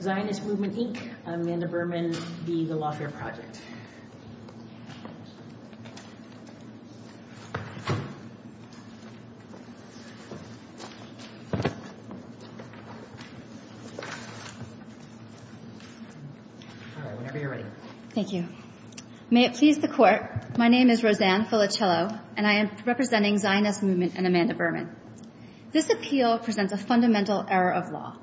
Zionist Movement, Inc., Amanda Berman, v. The Lawfare Project, Inc. Thank you. May it please the Court, my name is Roseanne Filicello, and I am representing Zionist Movement and Amanda Berman. This appeal presents a fundamental error of law.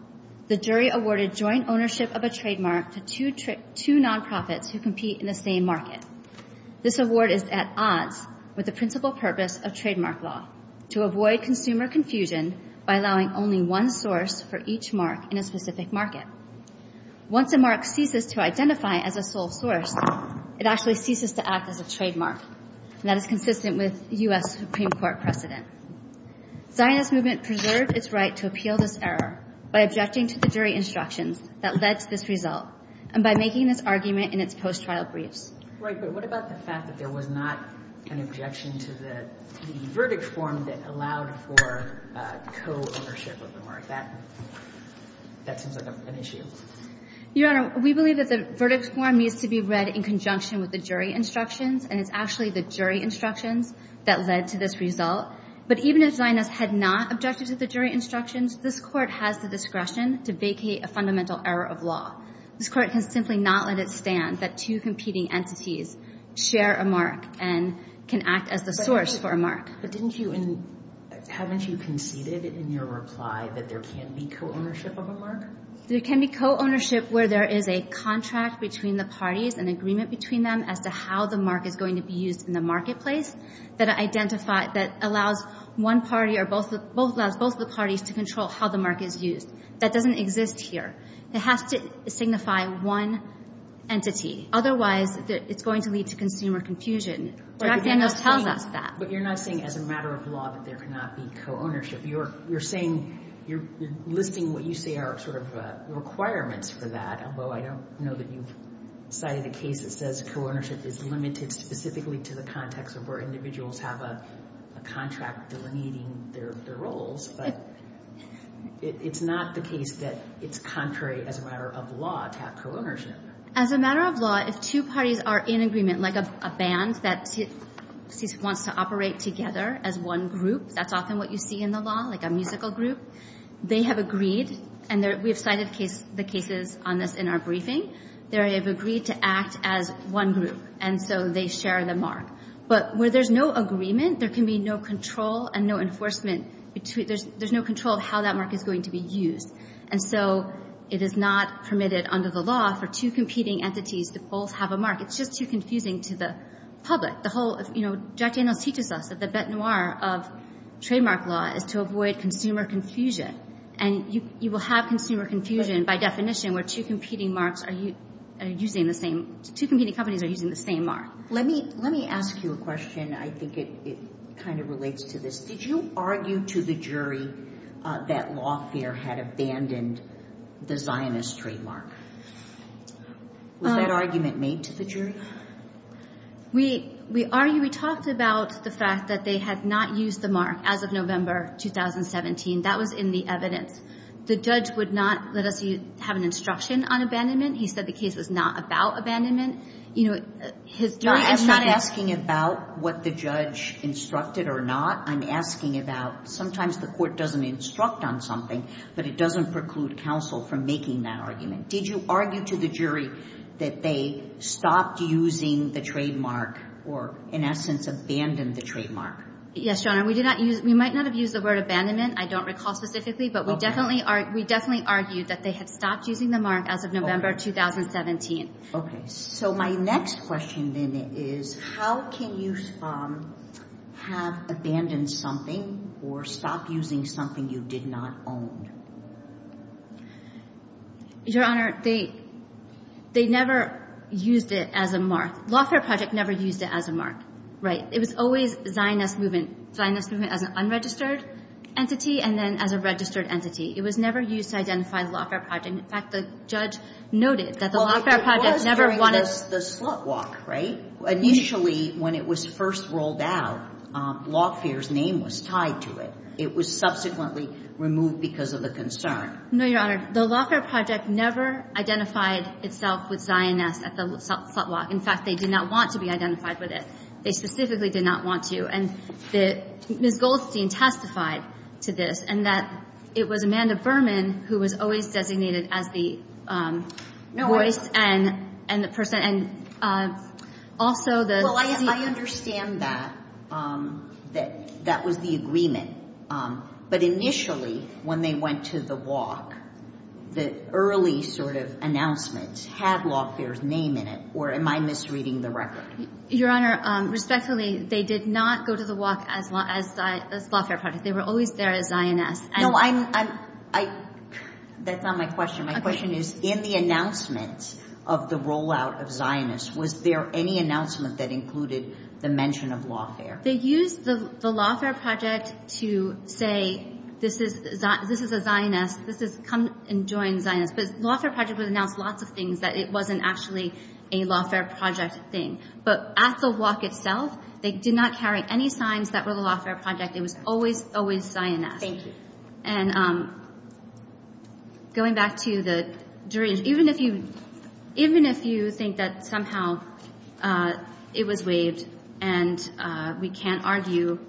The jury awarded joint ownership of a trademark to two non-profits who compete in the same market. This award is at odds with the principal purpose of trademark law, to avoid consumer confusion by allowing only one source for each mark in a specific market. Once a mark ceases to identify as a sole source, it actually ceases to act as a trademark, and that is consistent with U.S. Supreme Court precedent. Zionist Movement preserved its right to appeal this error by objecting to the jury instructions that led to this result, and by making this argument in its post-trial briefs. Right, but what about the fact that there was not an objection to the verdict form that allowed for co-ownership of the mark? That seems like an issue. Your Honor, we believe that the verdict form needs to be read in conjunction with the jury instructions, and it's actually the jury instructions that led to this result. But even if Zionist had not objected to the jury instructions, this Court has the discretion to vacate a fundamental error of law. This Court can simply not let it stand that two competing entities share a mark and can act as the source for a mark. But didn't you in, haven't you conceded in your reply that there can't be co-ownership of a mark? There can be co-ownership where there is a contract between the parties, an agreement between them as to how the mark is going to be used in the marketplace that identify, that allows one party or both, both allows both the parties to control how the mark is used. That doesn't exist here. It has to signify one entity. Otherwise, it's going to lead to consumer confusion. But you're not saying as a matter of law that there cannot be co-ownership. You're saying, you're listing what you say are sort of requirements for that, although I don't know that you've cited a case that says co-ownership is limited specifically to the context of where individuals have a contract delineating their roles. But it's not the case that it's contrary as a matter of law to have co-ownership. As a matter of law, if two parties are in agreement, like a band that wants to operate together as one group, that's often what you see in the law, like a musical group. They have agreed, and we have cited the cases on this in our briefing, they have agreed to act as one group. And so they share the mark. But where there's no agreement, there can be no control and no enforcement. There's no control of how that mark is going to be used. And so it is not permitted under the law for two competing entities to both have a mark. It's just too confusing to the public. The whole of, you know, Jack Daniels teaches us that the bete noire of trademark law is to avoid consumer confusion. And you will have consumer confusion by definition where two competing marks are using the same, two competing companies are using the same mark. Let me, let me ask you a question. I think it kind of relates to this. Did you argue to the jury that Lawfare had abandoned the Zionist trademark? Was that argument made to the jury? We argued, we talked about the fact that they had not used the mark as of November 2017. That was in the evidence. The judge would not let us have an instruction on abandonment. He said the case was not about abandonment. You know, his jury has shot it. I'm not asking about what the judge instructed or not. I'm asking about sometimes the court doesn't instruct on something, but it doesn't preclude counsel from making that argument. Did you argue to the jury that they stopped using the trademark or in essence abandoned the trademark? Yes, Your Honor. We did not use, we might not have used the word abandonment. I don't recall specifically, but we definitely are, we definitely argued that they had stopped using the mark as of November 2017. Okay. So my next question then is, how can you have abandoned something or stop using something you did not own? Your Honor, they, they never used it as a mark. Lawfare Project never used it as a mark. Right. It was always Zionist Movement. Zionist Movement as an unregistered entity and then as a registered entity. It was never used to identify the Lawfare Project. In fact, the judge noted that the Lawfare Project never wanted to Well, it was during the Slut Walk, right? Initially, when it was first rolled out, Lawfare's name was tied to it. It was subsequently removed because of the concern. No, Your Honor. The Lawfare Project never identified itself with Zionist at the Slut Walk. In fact, they did not want to be identified with it. They specifically did not want to. And Ms. Goldstein testified to this and that it was Amanda Berman who was always designated as the voice and the person. And also the Well, I understand that, that that was the agreement. But initially, when they went to the walk, the early sort of announcements had Lawfare's name in it, or am I misreading the record? Your Honor, respectfully, they did not go to the walk as Lawfare Project. They were always there as Zionist. No, I'm, I, that's not my question. My question is, in the announcement of the rollout of Zionist, was there any announcement that included the mention of Lawfare? They used the Lawfare Project to say, this is, this is a Zionist, this is come and join Zionist. But Lawfare Project was announced lots of things that it wasn't actually a Lawfare Project thing. But at the walk itself, they did not carry any signs that were the Lawfare Project. It was always, always Zionist. Thank you. And going back to the jury, even if you, even if you think that somehow it was waived, and we can't argue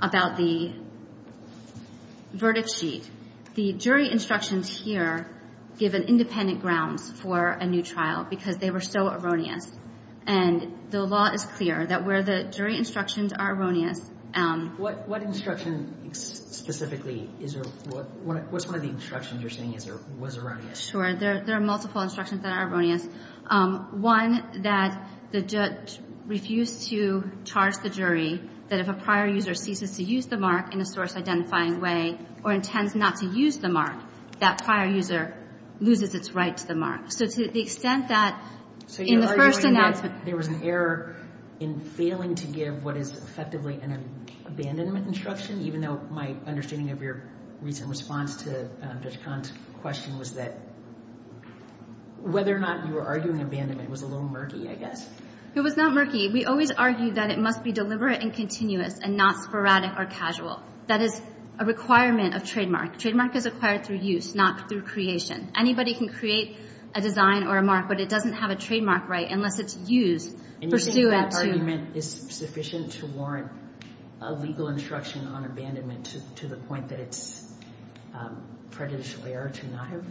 about the verdict sheet, the jury instructions here give an independent grounds for a new trial because they were so erroneous. And the law is clear that where the jury instructions are erroneous. What, what instruction specifically is, what's one of the instructions you're saying is or was erroneous? Sure. There are multiple instructions that are erroneous. One, that the judge refused to charge the jury that if a prior user ceases to use the mark in a source identifying way, or intends not to use the mark, that prior user loses its right to the mark. So to the extent that in the first announcement... So you're arguing that there was an error in failing to give what is effectively an abandonment instruction, even though my understanding of your recent response to Judge Kahn's question was that whether or not you were arguing abandonment was a little murky, I guess? It was not murky. We always argue that it must be deliberate and continuous and not sporadic or casual. That is a requirement of trademark. Trademark is acquired through use, not through creation. Anybody can create a design or a mark, but it doesn't have a trademark right unless it's used for stew at... And you think that argument is sufficient to warrant a legal instruction on abandonment to the point that it's predatory or to not have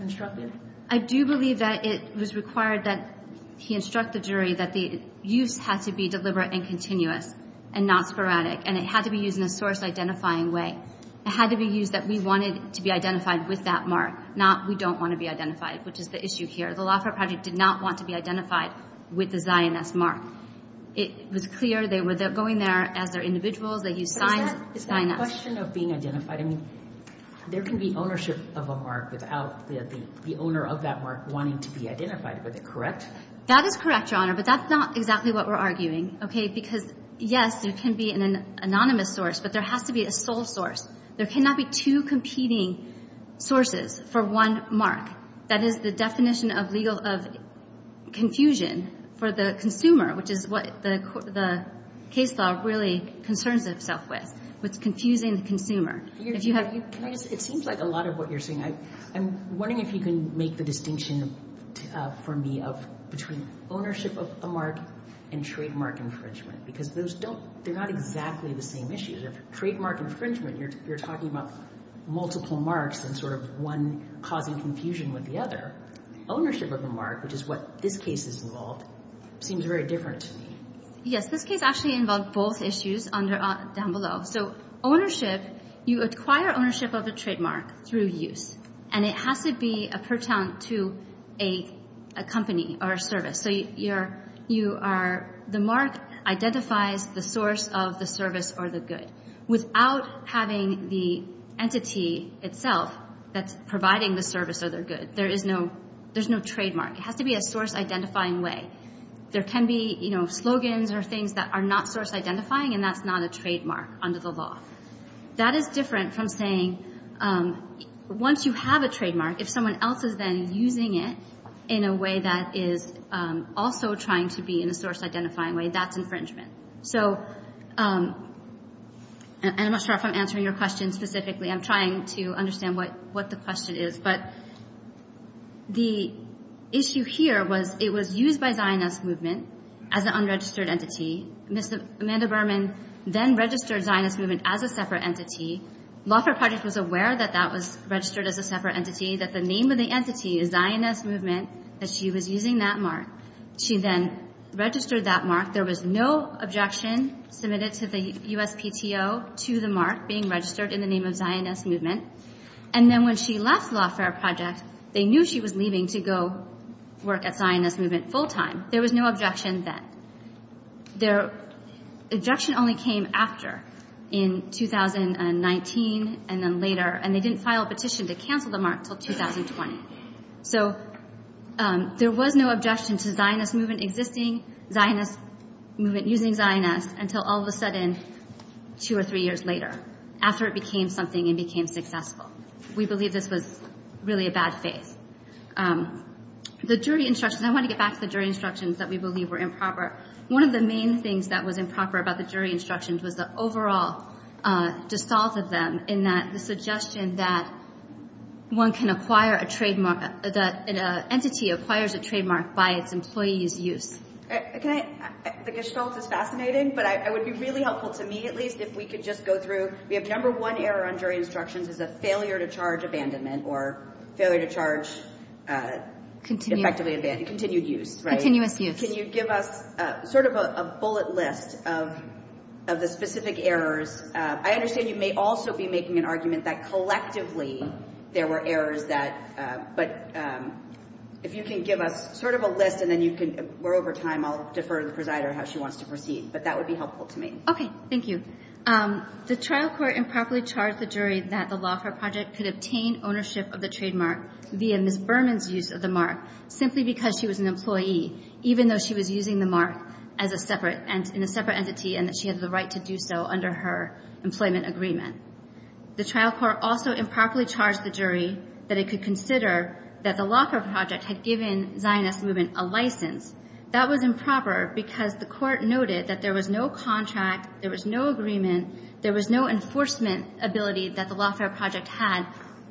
instructed? I do believe that it was required that he instruct the jury that the use had to be deliberate and continuous and not sporadic, and it had to be used in a source-identifying way. It had to be used that we wanted to be identified with that mark, not we don't want to be identified, which is the issue here. The Laffer Project did not want to be identified with the Zionist mark. It was clear they were going there as they're individuals, they use signs, Zionist. But is that question of being identified, I mean, there can be ownership of a mark without the owner of that mark wanting to be identified with it, correct? That is correct, Your Honor, but that's not exactly what we're arguing, okay, because yes, it can be an anonymous source, but there has to be a sole source. There cannot be two competing sources for one mark. That is the definition of legal of confusion for the consumer, which is what the case law really concerns itself with, with confusing the consumer. It seems like a lot of what you're saying, I'm wondering if you can make the distinction for me of between ownership of a mark and trademark infringement, because those don't, they're not exactly the same issues. If trademark infringement, you're talking about multiple marks and sort of one causing confusion with the other. Ownership of a mark, which is what this case is involved, seems very different to me. Yes, this case actually involved both issues down below. So ownership, you acquire ownership of a trademark through use, and it has to be a pertinent to a company or a service. So you are, the mark identifies the source of the service or the good. Without having the entity itself that's providing the service or the good, there is no, there's no trademark. It has to be a source identifying way. There can be, you know, slogans or things that are not source identifying, and that's not a trademark under the law. That is different from saying, once you have a trademark, if someone else is then using it in a way that is also trying to be in a source identifying way, that's infringement. So, and I'm not sure if I'm answering your question specifically. I'm trying to understand what the question is. But the issue here was it was used by Zionist movement as an unregistered entity. Ms. Amanda Berman then registered Zionist movement as a separate entity. Lawfare Project was aware that that was registered as a separate entity, that the name of the entity is Zionist movement, that she was using that mark. She then registered that mark. There was no objection submitted to the USPTO to the mark being registered in the name of Zionist movement. And then when she left Lawfare Project, they knew she was leaving to go work at Zionist movement full-time. There was no objection then. Objection only came after, in 2019 and then later, and they didn't file a petition to cancel the mark until 2020. So there was no objection to Zionist movement existing, Zionist movement using Zionist, until all of a sudden, two or three years later, after it became something and became successful. We believe this was really a bad faith. The jury instructions, I want to get back to the jury instructions that we believe were improper. One of the main things that was improper about the jury instructions was the overall dissolve of them in that the suggestion that one can acquire a trademark, that an entity acquires a trademark by its employee's use. I think it's fascinating, but it would be really helpful to me, at least, if we could just go through, we have number one error on jury instructions is a failure to charge abandonment or failure to charge effectively abandoned, continued use, right? Continuous use. Can you give us sort of a bullet list of the specific errors? I understand you may also be making an argument that collectively there were errors that, but if you can give us sort of a list and then you can, we're over time, I'll defer to the presider how she wants to proceed, but that would be helpful to me. Okay. Thank you. The trial court improperly charged the jury that the Lawfare Project could obtain ownership of the trademark via Ms. Berman's use of the mark simply because she was an employee, even though she was using the mark as a separate entity and that she had the right to do so under her employment agreement. The trial court also improperly charged the jury that it could consider that the Lawfare Project had given Zionist movement a license. That was improper because the court noted that there was no contract, there was no agreement, there was no contract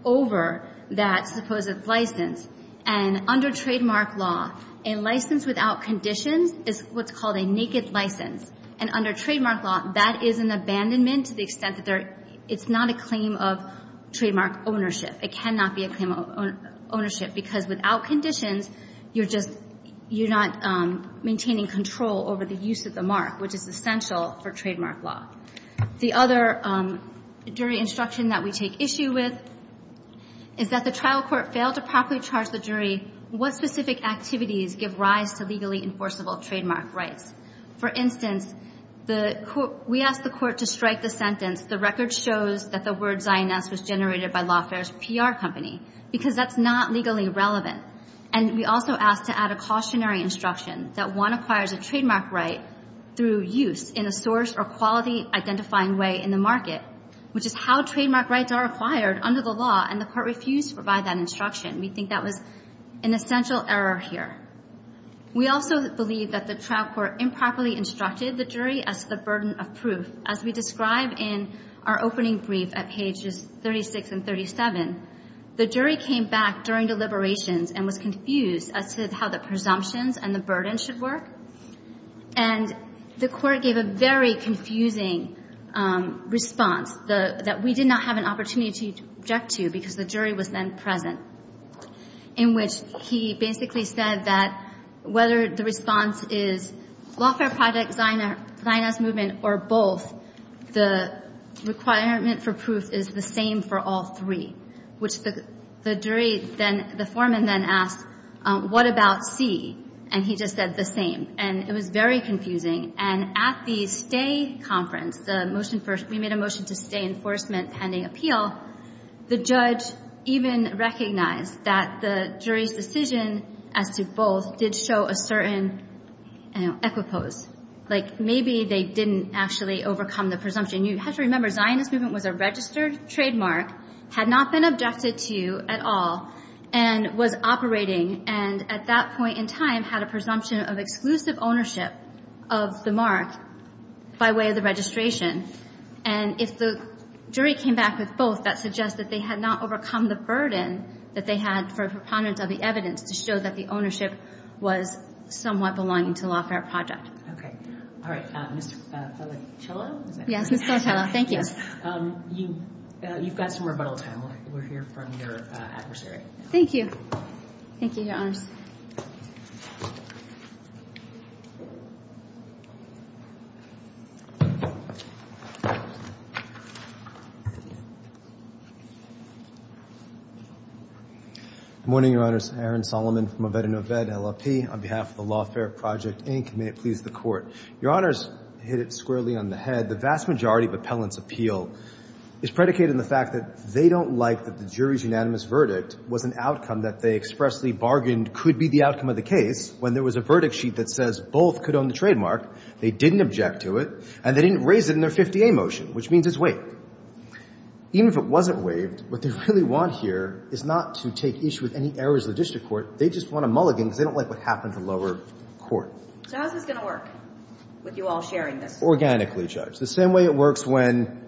over that supposed license. And under trademark law, a license without conditions is what's called a naked license. And under trademark law, that is an abandonment to the extent that there – it's not a claim of trademark ownership. It cannot be a claim of ownership because without conditions, you're just – you're not maintaining control over the use of the mark, which is essential for trademark law. The other jury instruction that we take issue with is that the trial court failed to properly charge the jury what specific activities give rise to legally enforceable trademark rights. For instance, the – we asked the court to strike the sentence the record shows that the word Zionist was generated by Lawfare's PR company because that's not legally relevant. And we also asked to add a cautionary instruction that one acquires a trademark right through use in a source or quality-identifying way in the market, which is how trademark rights are acquired under the law, and the court refused to provide that instruction. We think that was an essential error here. We also believe that the trial court improperly instructed the jury as to the burden of proof. As we describe in our opening brief at pages 36 and 37, the jury came back during deliberations and was confused as to how the presumptions and the court gave a very confusing response that we did not have an opportunity to object to because the jury was then present, in which he basically said that whether the response is Lawfare Project, Zionist Movement, or both, the requirement for proof is the same for all three, which the jury then – the foreman then asked, what about C? And he just said the same. And it was very confusing. And at the stay conference, the motion for – we made a motion to stay enforcement pending appeal, the judge even recognized that the jury's decision as to both did show a certain, you know, equipose. Like, maybe they didn't actually overcome the presumption. You have to remember, Zionist Movement was a registered trademark, had not been objected to at all, and was operating and, at that point in time, had a presumption of exclusive ownership of the mark by way of the registration. And if the jury came back with both, that suggests that they had not overcome the burden that they had for a preponderance of the evidence to show that the ownership was somewhat belonging to Lawfare Project. Okay. All right. Mr. Pelliccillo? Yes, Mr. Pelliccillo. Thank you. Yes. You've got some rebuttal time. We'll hear from your adversary. Thank you. Thank you, Your Honors. Good morning, Your Honors. Aaron Solomon from Oved and Oved, LLP, on behalf of the Lawfare Project, Inc. May it please the Court. Your Honors hit it squarely on the fact that they don't like that the jury's unanimous verdict was an outcome that they expressly bargained could be the outcome of the case when there was a verdict sheet that says both could own the trademark, they didn't object to it, and they didn't raise it in their 50A motion, which means it's waived. Even if it wasn't waived, what they really want here is not to take issue with any errors of the district court. They just want a mulligan because they don't like what happened to lower court. So how is this going to work, with you all sharing this? The same way it works when,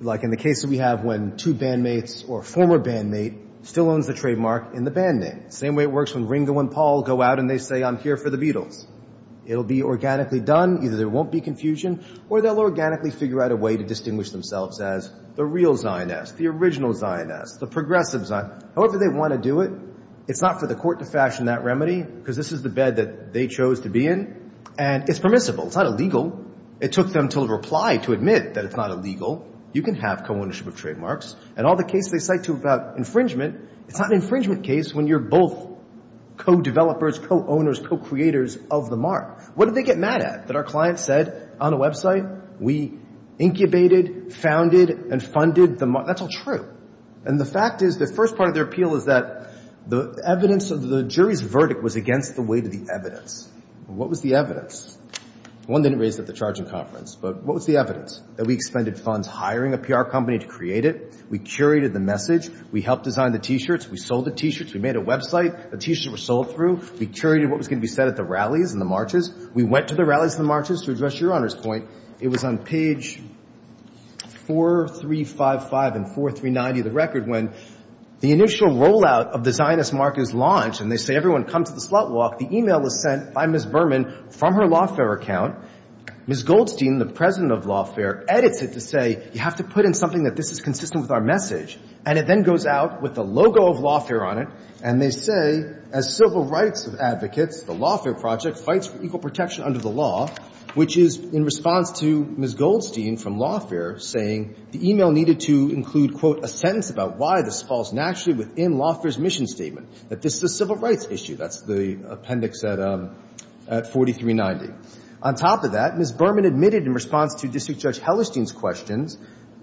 like in the case that we have when two bandmates or a former bandmate still owns the trademark in the band name. The same way it works when Ringo and Paul go out and they say, I'm here for the Beatles. It'll be organically done. Either there won't be confusion or they'll organically figure out a way to distinguish themselves as the real Zionist, the original Zionist, the progressive Zionist. However they want to do it, it's not for the court to fashion that remedy because this is the bed that they chose to be in and it's permissible. It's not illegal. It took them until a reply to admit that it's not illegal. You can have co-ownership of trademarks. And all the cases they cite to about infringement, it's not an infringement case when you're both co-developers, co-owners, co-creators of the mark. What did they get mad at? That our client said on the website, we incubated, founded, and funded the mark? That's all true. And the fact is the first part of their appeal is that the evidence of the jury's verdict was against the weight of the evidence. What was the evidence? One didn't raise it at the charging conference, but what was the evidence? That we expended funds hiring a PR company to create it. We curated the message. We helped design the T-shirts. We sold the T-shirts. We made a website. The T-shirts were sold through. We curated what was going to be said at the rallies and the marches. We went to the rallies and the marches to address Your Honor's point. It was on page 4355 and 4390 of the record when the initial rollout of the Zionist mark is launched and they say everyone come to the slot walk. The e-mail is sent by Ms. Berman from her Lawfare account. Ms. Goldstein, the president of Lawfare, edits it to say you have to put in something that this is consistent with our message. And it then goes out with the logo of Lawfare on it, and they say, as civil rights advocates, the Lawfare Project fights for equal protection under the law, which is in response to Ms. Goldstein from Lawfare saying the e-mail needed to include, quote, a sentence about why this falls naturally within Lawfare's mission statement, that this is a civil rights issue. That's the appendix at 4390. On top of that, Ms. Berman admitted in response to District Judge Hellerstein's questions,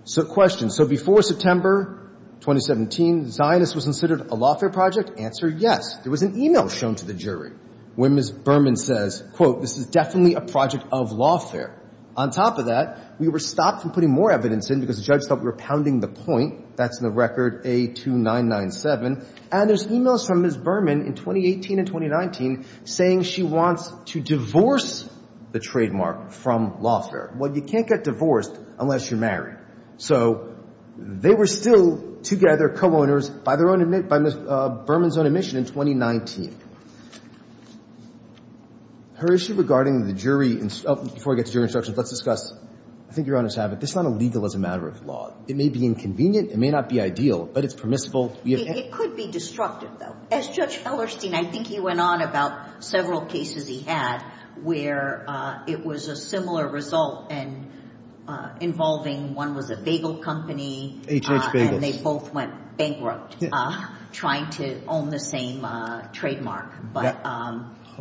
so before September 2017, Zionist was considered a Lawfare Project? Answer, yes. There was an e-mail shown to the jury where Ms. Berman says, quote, this is definitely a project of Lawfare. On top of that, we were stopped from putting more evidence in because the judge thought we were pounding the point. That's in the record, A2997. And there's e-mails from Ms. Berman in 2018 and 2019 saying she wants to divorce the trademark from Lawfare. Well, you can't get divorced unless you're married. So they were still together, co-owners, by their own admission, by Ms. Berman's own admission in 2019. Her issue regarding the jury, before I get to jury instructions, let's discuss, I think Your Honor's have it, this is not illegal as a matter of law. It may be inconvenient, it may not be ideal, but it's permissible. It could be destructive, though. As Judge Hellerstein, I think he went on about several cases he had where it was a similar result and involving, one was a bagel company. HH Bagels. And they both went bankrupt trying to own the same trademark.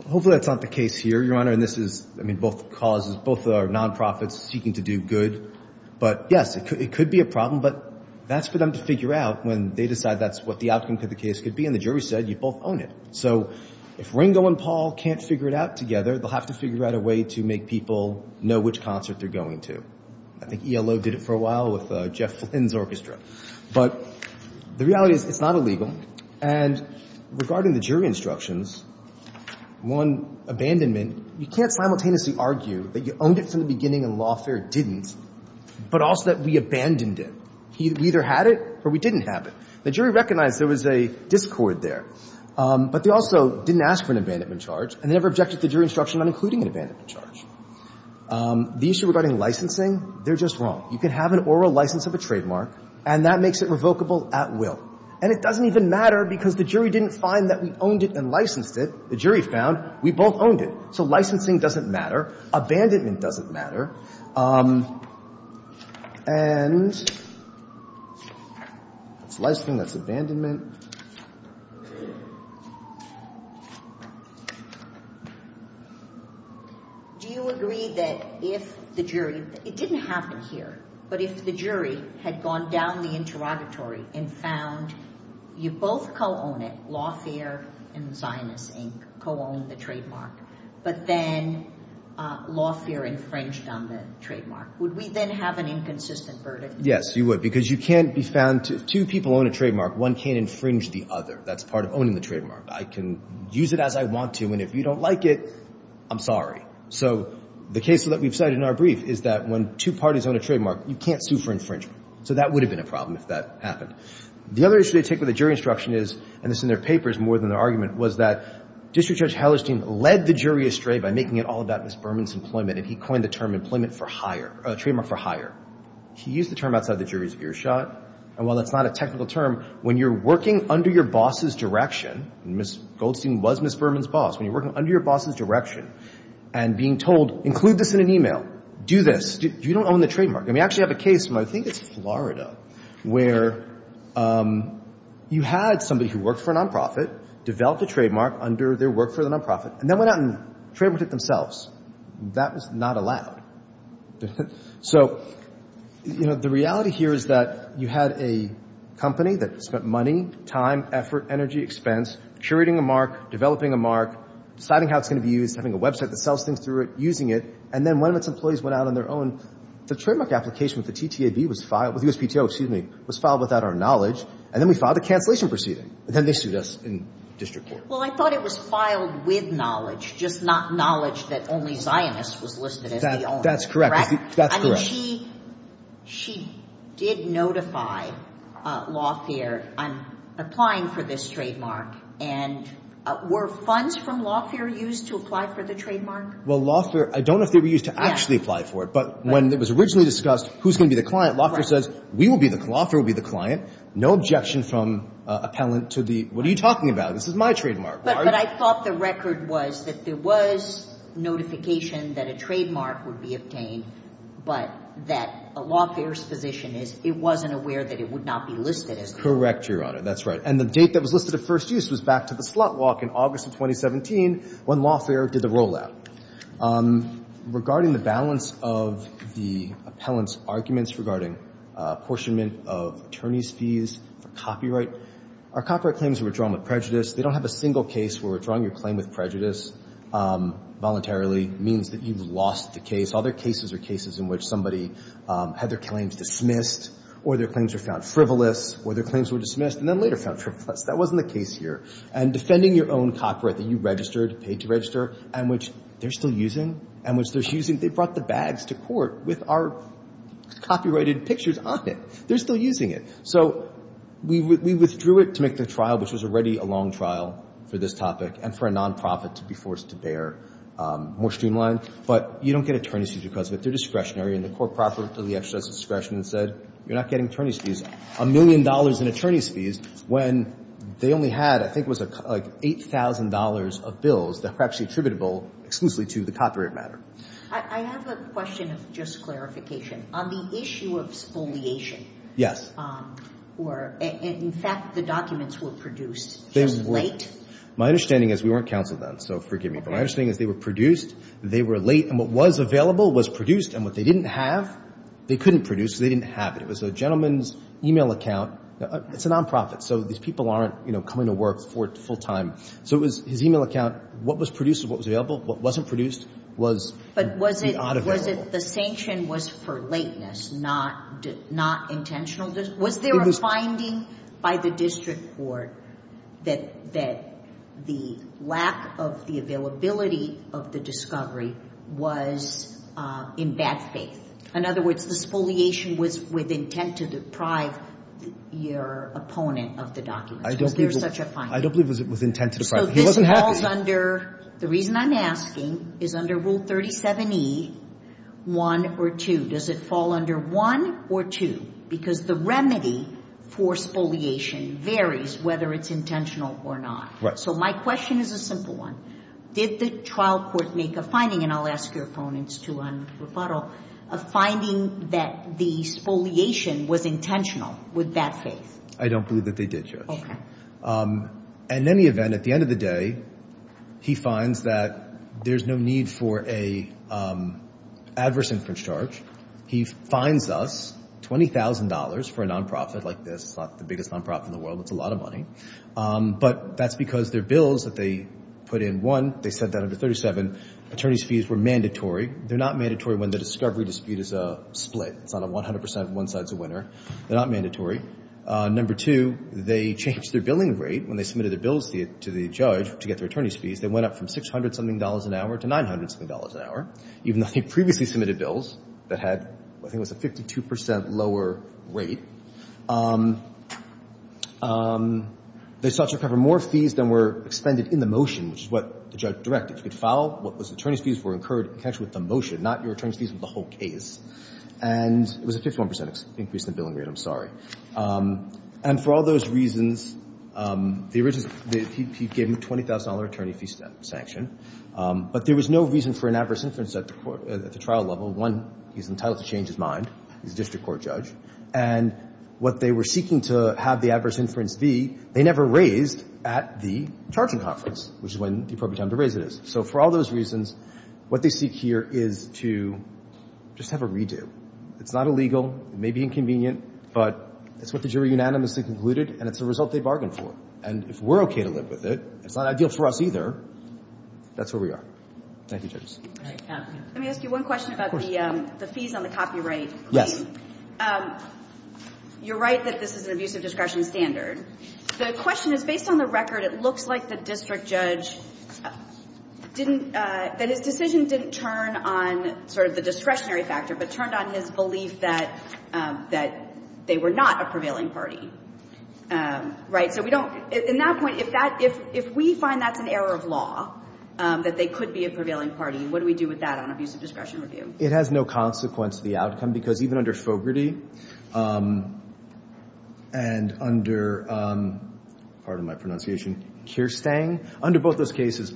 Hopefully that's not the case here, Your Honor. And this is, I mean, both causes both are non-profits seeking to do good. But yes, it could be a problem. But that's for them to figure out when they decide that's what the outcome of the case could be. And the jury said you both own it. So if Ringo and Paul can't figure it out together, they'll have to figure out a way to make people know which concert they're going to. I think ELO did it for a while with Jeff Flynn's orchestra. But the reality is it's not illegal. And regarding the jury instructions, one abandonment, you can't simultaneously argue that you owned it from the beginning and lawfare didn't, but also that we abandoned it. We either had it or we didn't have it. The jury recognized there was a discord there. But they also didn't ask for an abandonment charge and never objected to jury instruction on including an abandonment charge. The issue regarding licensing, they're just wrong. You can have an oral license of a trademark, and that makes it revocable at will. And it doesn't even matter because the jury didn't find that we owned it and licensed it. The jury found we both owned it. So licensing doesn't matter. Abandonment doesn't matter. And that's licensing. That's abandonment. Do you agree that if the jury, it didn't happen here, but if the jury had gone down the interrogatory and found you both co-owned it, lawfare and Zionist, Inc., co-owned the trademark, but then lawfare infringed on the trademark, would we then have an inconsistent verdict? Yes, you would, because you can't be found to – two people own a trademark. One can't infringe the other. That's part of owning the trademark. I can use it as I want to, and if you don't like it, I'm sorry. So the case that we've cited in our brief is that when two parties own a trademark, you can't sue for infringement. So that would have been a problem if that happened. The other issue they take with the jury instruction is – and this in their paper is more than their argument – was that District Judge Hellerstein led the jury astray by making it all about Ms. Berman's employment, and he coined the term employment for hire – trademark for hire. He used the term outside the jury's earshot. And while that's not a technical term, when you're working under your boss's direction – and Ms. Goldstein was Ms. Berman's boss – when you're working under your boss's direction and being told, include this in an e-mail, do this, you don't own the We actually have a case from, I think it's Florida, where you had somebody who worked for a non-profit, developed a trademark under their work for the non-profit, and then went out and trademarked it themselves. That was not allowed. So the reality here is that you had a company that spent money, time, effort, energy, expense, curating a mark, developing a mark, deciding how it's going to be used, having a website that sells things through it, using it, and then one of its employees went out on their own. The trademark application with the TTAB was filed – with USPTO, excuse me – was filed without our knowledge, and then we filed a cancellation proceeding. And then they sued us in district court. Well, I thought it was filed with knowledge, just not knowledge that only Zionist was listed as the owner. That's correct. That's correct. I mean, she did notify Lawfare on applying for this trademark. And were funds from Lawfare used to apply for the trademark? Well, Lawfare – I don't know if they were used to actually apply for it. But when it was originally discussed who's going to be the client, Lawfare says, we will be the – Lawfare will be the client. No objection from appellant to the – what are you talking about? This is my trademark. But I thought the record was that there was notification that a trademark would be obtained, but that Lawfare's position is it wasn't aware that it would not be listed as the owner. Correct, Your Honor. That's right. And the date that it was listed at first use was back to the slot walk in August of 2017 when Lawfare did the rollout. Regarding the balance of the appellant's arguments regarding apportionment of attorney's fees for copyright, our copyright claims were withdrawn with prejudice. They don't have a single case where withdrawing your claim with prejudice voluntarily means that you've lost the case. All their cases are cases in which somebody had their claims dismissed or their claims were found frivolous or their claims were dismissed and then later found frivolous. That wasn't the case here. And defending your own copyright that you registered, paid to register, and which they're still using, and which they're using. They brought the bags to court with our copyrighted pictures on it. They're still using it. So we withdrew it to make the trial, which was already a long trial for this topic and for a nonprofit to be forced to bear more streamlined. But you don't get attorney's fees because of it. They're discretionary. And the court properly exercised its discretion and said you're not getting attorney's fees. A million dollars in attorney's fees when they only had, I think it was like $8,000 of bills that were actually attributable exclusively to the copyright matter. I have a question of just clarification. On the issue of spoliation. Yes. In fact, the documents were produced just late. My understanding is we weren't counseled then, so forgive me. But my understanding is they were produced, they were late, and what was available was produced. And what they didn't have, they couldn't produce, so they didn't have it. It was a gentleman's e-mail account. It's a nonprofit, so these people aren't coming to work full-time. So it was his e-mail account. What was produced is what was available. What wasn't produced was not available. But was it the sanction was for lateness, not intentional? Was there a finding by the district court that the lack of the availability of the discovery was in bad faith? In other words, the spoliation was with intent to deprive your opponent of the documents. Was there such a finding? I don't believe it was intent to deprive. He wasn't happy. So this falls under the reason I'm asking is under Rule 37E, 1 or 2. Does it fall under 1 or 2? Because the remedy for spoliation varies whether it's intentional or not. Right. So my question is a simple one. Did the trial court make a finding, and I'll ask your opponents to un-rebuttal, a finding that the spoliation was intentional with bad faith? I don't believe that they did, Judge. Okay. In any event, at the end of the day, he finds that there's no need for an adverse inference charge. He fines us $20,000 for a nonprofit like this. It's not the biggest nonprofit in the world. It's a lot of money. But that's because their bills that they put in, one, they said that under 37, attorney's fees were mandatory. They're not mandatory when the discovery dispute is a split. It's not a 100% one side's a winner. They're not mandatory. Number two, they changed their billing rate when they submitted their bills to the judge to get their attorney's fees. They went up from $600-something an hour to $900-something an hour, even though they previously submitted bills that had, I think it was a 52% lower rate. They sought to recover more fees than were expended in the motion, which is what the judge directed. If you could file what was attorney's fees were incurred in connection with the motion, not your attorney's fees with the whole case. And it was a 51% increase in the billing rate. I'm sorry. And for all those reasons, he gave them a $20,000 attorney fee sanction. But there was no reason for an adverse inference at the trial level. One, he's entitled to change his mind. He's a district court judge. And what they were seeking to have the adverse inference be, they never raised at the charging conference, which is when the appropriate time to raise it is. So for all those reasons, what they seek here is to just have a redo. It's not illegal. It may be inconvenient. But it's what the jury unanimously concluded, and it's a result they bargained for. And if we're okay to live with it, it's not ideal for us either. That's where we are. Thank you, judges. Let me ask you one question about the fees on the copyright. Yes. You're right that this is an abusive discretion standard. The question is, based on the record, it looks like the district judge didn't – that his decision didn't turn on sort of the discretionary factor, but turned on his belief that they were not a prevailing party. Right? So we don't – in that point, if that – if we find that's an error of law, that they could be a prevailing party, what do we do with that on abusive discretion review? It has no consequence to the outcome, because even under Fogarty and under – pardon my pronunciation – Kierstang, under both those cases,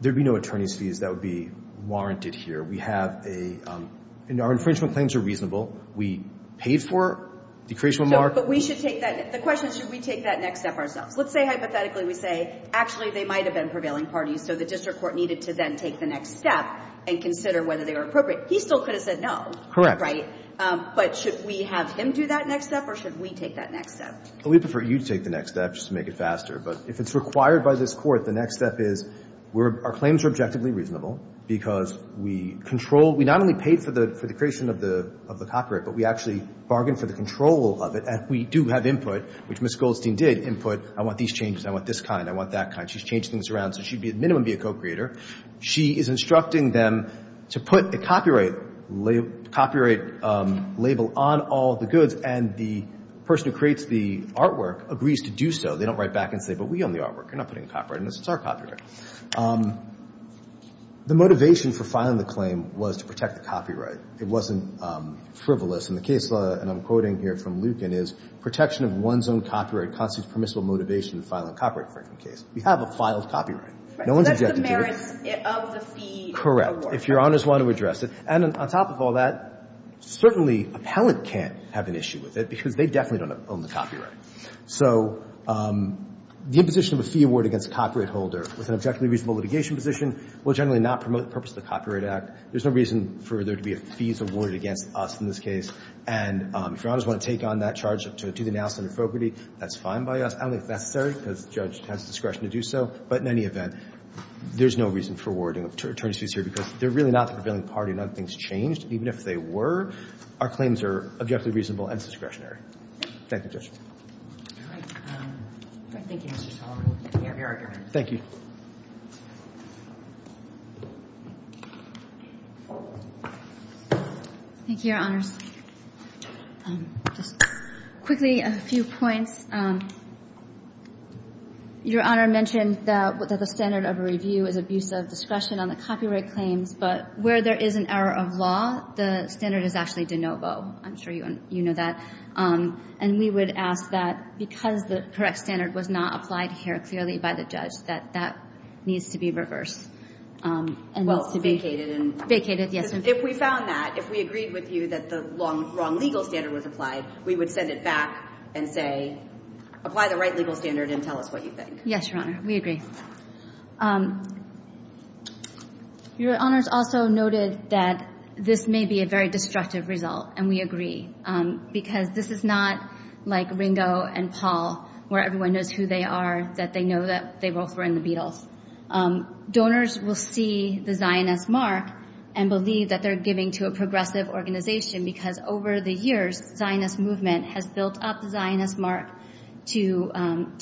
there would be no attorney's fees that would be warranted here. We have a – and our infringement claims are reasonable. We paid for a decreational mark. But we should take that – the question is, should we take that next step ourselves? Let's say, hypothetically, we say, actually, they might have been prevailing parties, so the district court needed to then take the next step and consider whether they were appropriate. He still could have said no. Correct. Right? But should we have him do that next step, or should we take that next step? We prefer you to take the next step, just to make it faster. But if it's required by this Court, the next step is our claims are objectively reasonable, because we control – we not only paid for the creation of the copyright, but we actually bargained for the control of it. And we do have input, which Ms. Goldstein did input. I want these changes. I want this kind. I want that kind. She's changed things around, so she'd at minimum be a co-creator. She is instructing them to put a copyright label on all the goods, and the person who creates the artwork agrees to do so. They don't write back and say, but we own the artwork. You're not putting a copyright on this. It's our copyright. The motivation for filing the claim was to protect the copyright. It wasn't frivolous. And the case law, and I'm quoting here from Lucan, is protection of one's own copyright constitutes permissible motivation to file a copyright infringement case. We have a filed copyright. No one's objecting to it. So that's the merits of the fee award. Correct. If Your Honors want to address it. And on top of all that, certainly appellant can't have an issue with it, because they definitely don't own the copyright. So the imposition of a fee award against a copyright holder with an objectively reasonable litigation position will generally not promote the purpose of the Copyright Act. There's no reason for there to be a fees awarded against us in this case. And if Your Honors want to take on that charge to do the analysis and appropriate, that's fine by us. I don't think it's necessary, because the judge has discretion to do so. But in any event, there's no reason for awarding attorneys fees here, because they're really not the prevailing party. None of the things changed. Even if they were, our claims are objectively reasonable and discretionary. Thank you, Judge. All right. Thank you, Mr. Sullivan. We have your argument. Thank you. Thank you, Your Honors. Just quickly, a few points. Your Honor mentioned that the standard of a review is abuse of discretion on the copyright claims. But where there is an error of law, the standard is actually de novo. I'm sure you know that. And we would ask that, because the correct standard was not applied here clearly by the judge, that that needs to be reversed. Well, vacated. Vacated, yes. If we found that, if we agreed with you that the wrong legal standard was applied, we would send it back and say, apply the right legal standard and tell us what you think. Yes, Your Honor. We agree. Your Honors also noted that this may be a very destructive result, and we agree. Because this is not like Ringo and Paul, where everyone knows who they are, that they know that they both were in the Beatles. Donors will see the Zionist mark and believe that they're giving to a progressive organization, because over the years, the Zionist movement has built up the Zionist mark to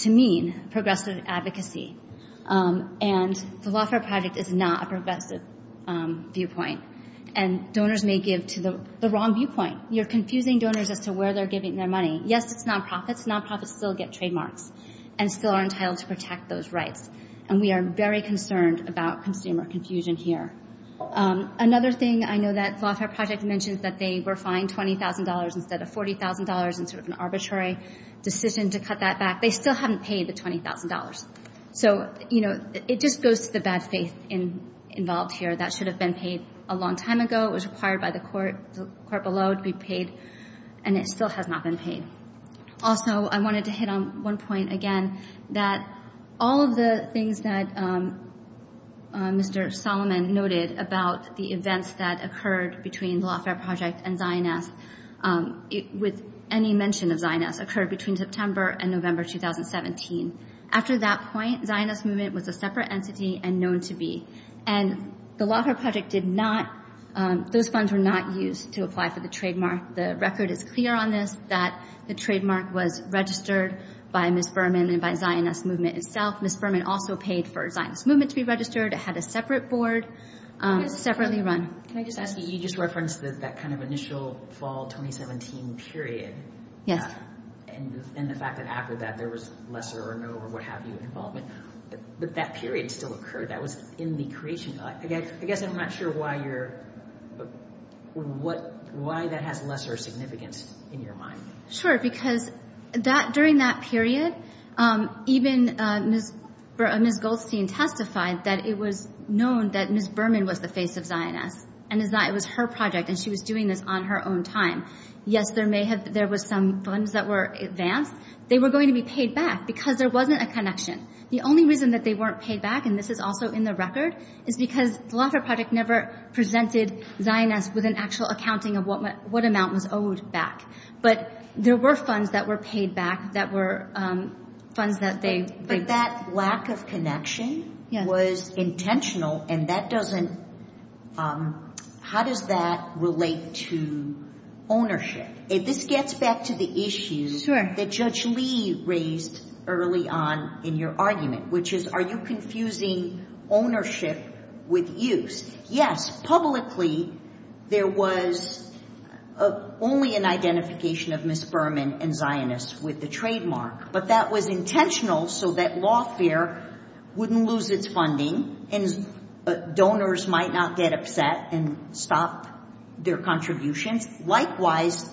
mean progressive advocacy. And the Lawfare Project is not a progressive viewpoint. And donors may give to the wrong viewpoint. You're confusing donors as to where they're giving their money. Yes, it's nonprofits. Nonprofits still get trademarks and still are entitled to protect those rights. And we are very concerned about consumer confusion here. Another thing I know that the Lawfare Project mentions, that they were fined $20,000 instead of $40,000, and sort of an arbitrary decision to cut that back. They still haven't paid the $20,000. So, you know, it just goes to the bad faith involved here. That should have been paid a long time ago. It was required by the court below to be paid, and it still has not been paid. Also, I wanted to hit on one point again, that all of the things that Mr. Solomon noted about the events that occurred between the Lawfare Project and Zionist, with any mention of Zionist, occurred between September and November 2017. After that point, Zionist movement was a separate entity and known to be. And the Lawfare Project did not, those funds were not used to apply for the trademark. The record is clear on this, that the trademark was registered by Ms. Berman and by Zionist movement itself. Ms. Berman also paid for Zionist movement to be registered. It had a separate board, separately run. Can I just ask you, you just referenced that kind of initial fall 2017 period. Yes. And the fact that after that there was lesser or no or what have you involvement. But that period still occurred. That was in the creation. I guess I'm not sure why that has lesser significance in your mind. Sure, because during that period, even Ms. Goldstein testified that it was known that Ms. Berman was the face of Zionist. And it was her project and she was doing this on her own time. Yes, there was some funds that were advanced. They were going to be paid back because there wasn't a connection. The only reason that they weren't paid back, and this is also in the record, is because the Lawfare Project never presented Zionist with an actual accounting of what amount was owed back. But there were funds that were paid back that were funds that they— But that lack of connection was intentional, and that doesn't—how does that relate to ownership? This gets back to the issue that Judge Lee raised early on in your argument, which is are you confusing ownership with use? Yes, publicly there was only an identification of Ms. Berman and Zionists with the trademark, but that was intentional so that lawfare wouldn't lose its funding and donors might not get upset and stop their contributions. And likewise,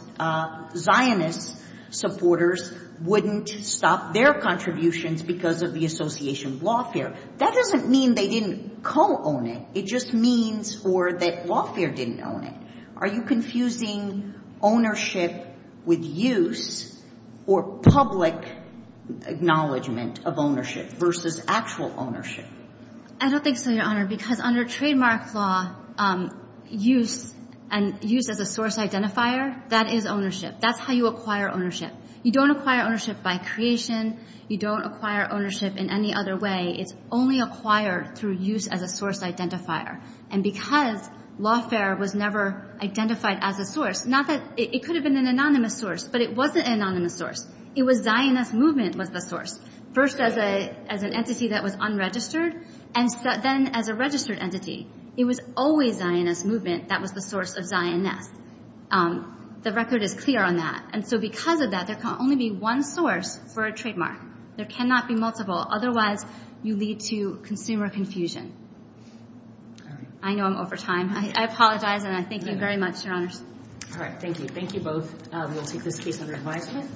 Zionist supporters wouldn't stop their contributions because of the association of lawfare. That doesn't mean they didn't co-own it. It just means for that lawfare didn't own it. Are you confusing ownership with use or public acknowledgment of ownership versus actual ownership? I don't think so, Your Honor, because under trademark law, use and use as a source identifier, that is ownership. That's how you acquire ownership. You don't acquire ownership by creation. You don't acquire ownership in any other way. It's only acquired through use as a source identifier. And because lawfare was never identified as a source, not that—it could have been an anonymous source, but it wasn't an anonymous source. It was Zionist movement was the source. First as an entity that was unregistered, and then as a registered entity. It was always Zionist movement that was the source of Zionist. The record is clear on that. And so because of that, there can only be one source for a trademark. There cannot be multiple. Otherwise, you lead to consumer confusion. I know I'm over time. I apologize, and I thank you very much, Your Honors. All right. Thank you. Thank you both. We will take this case under advisement.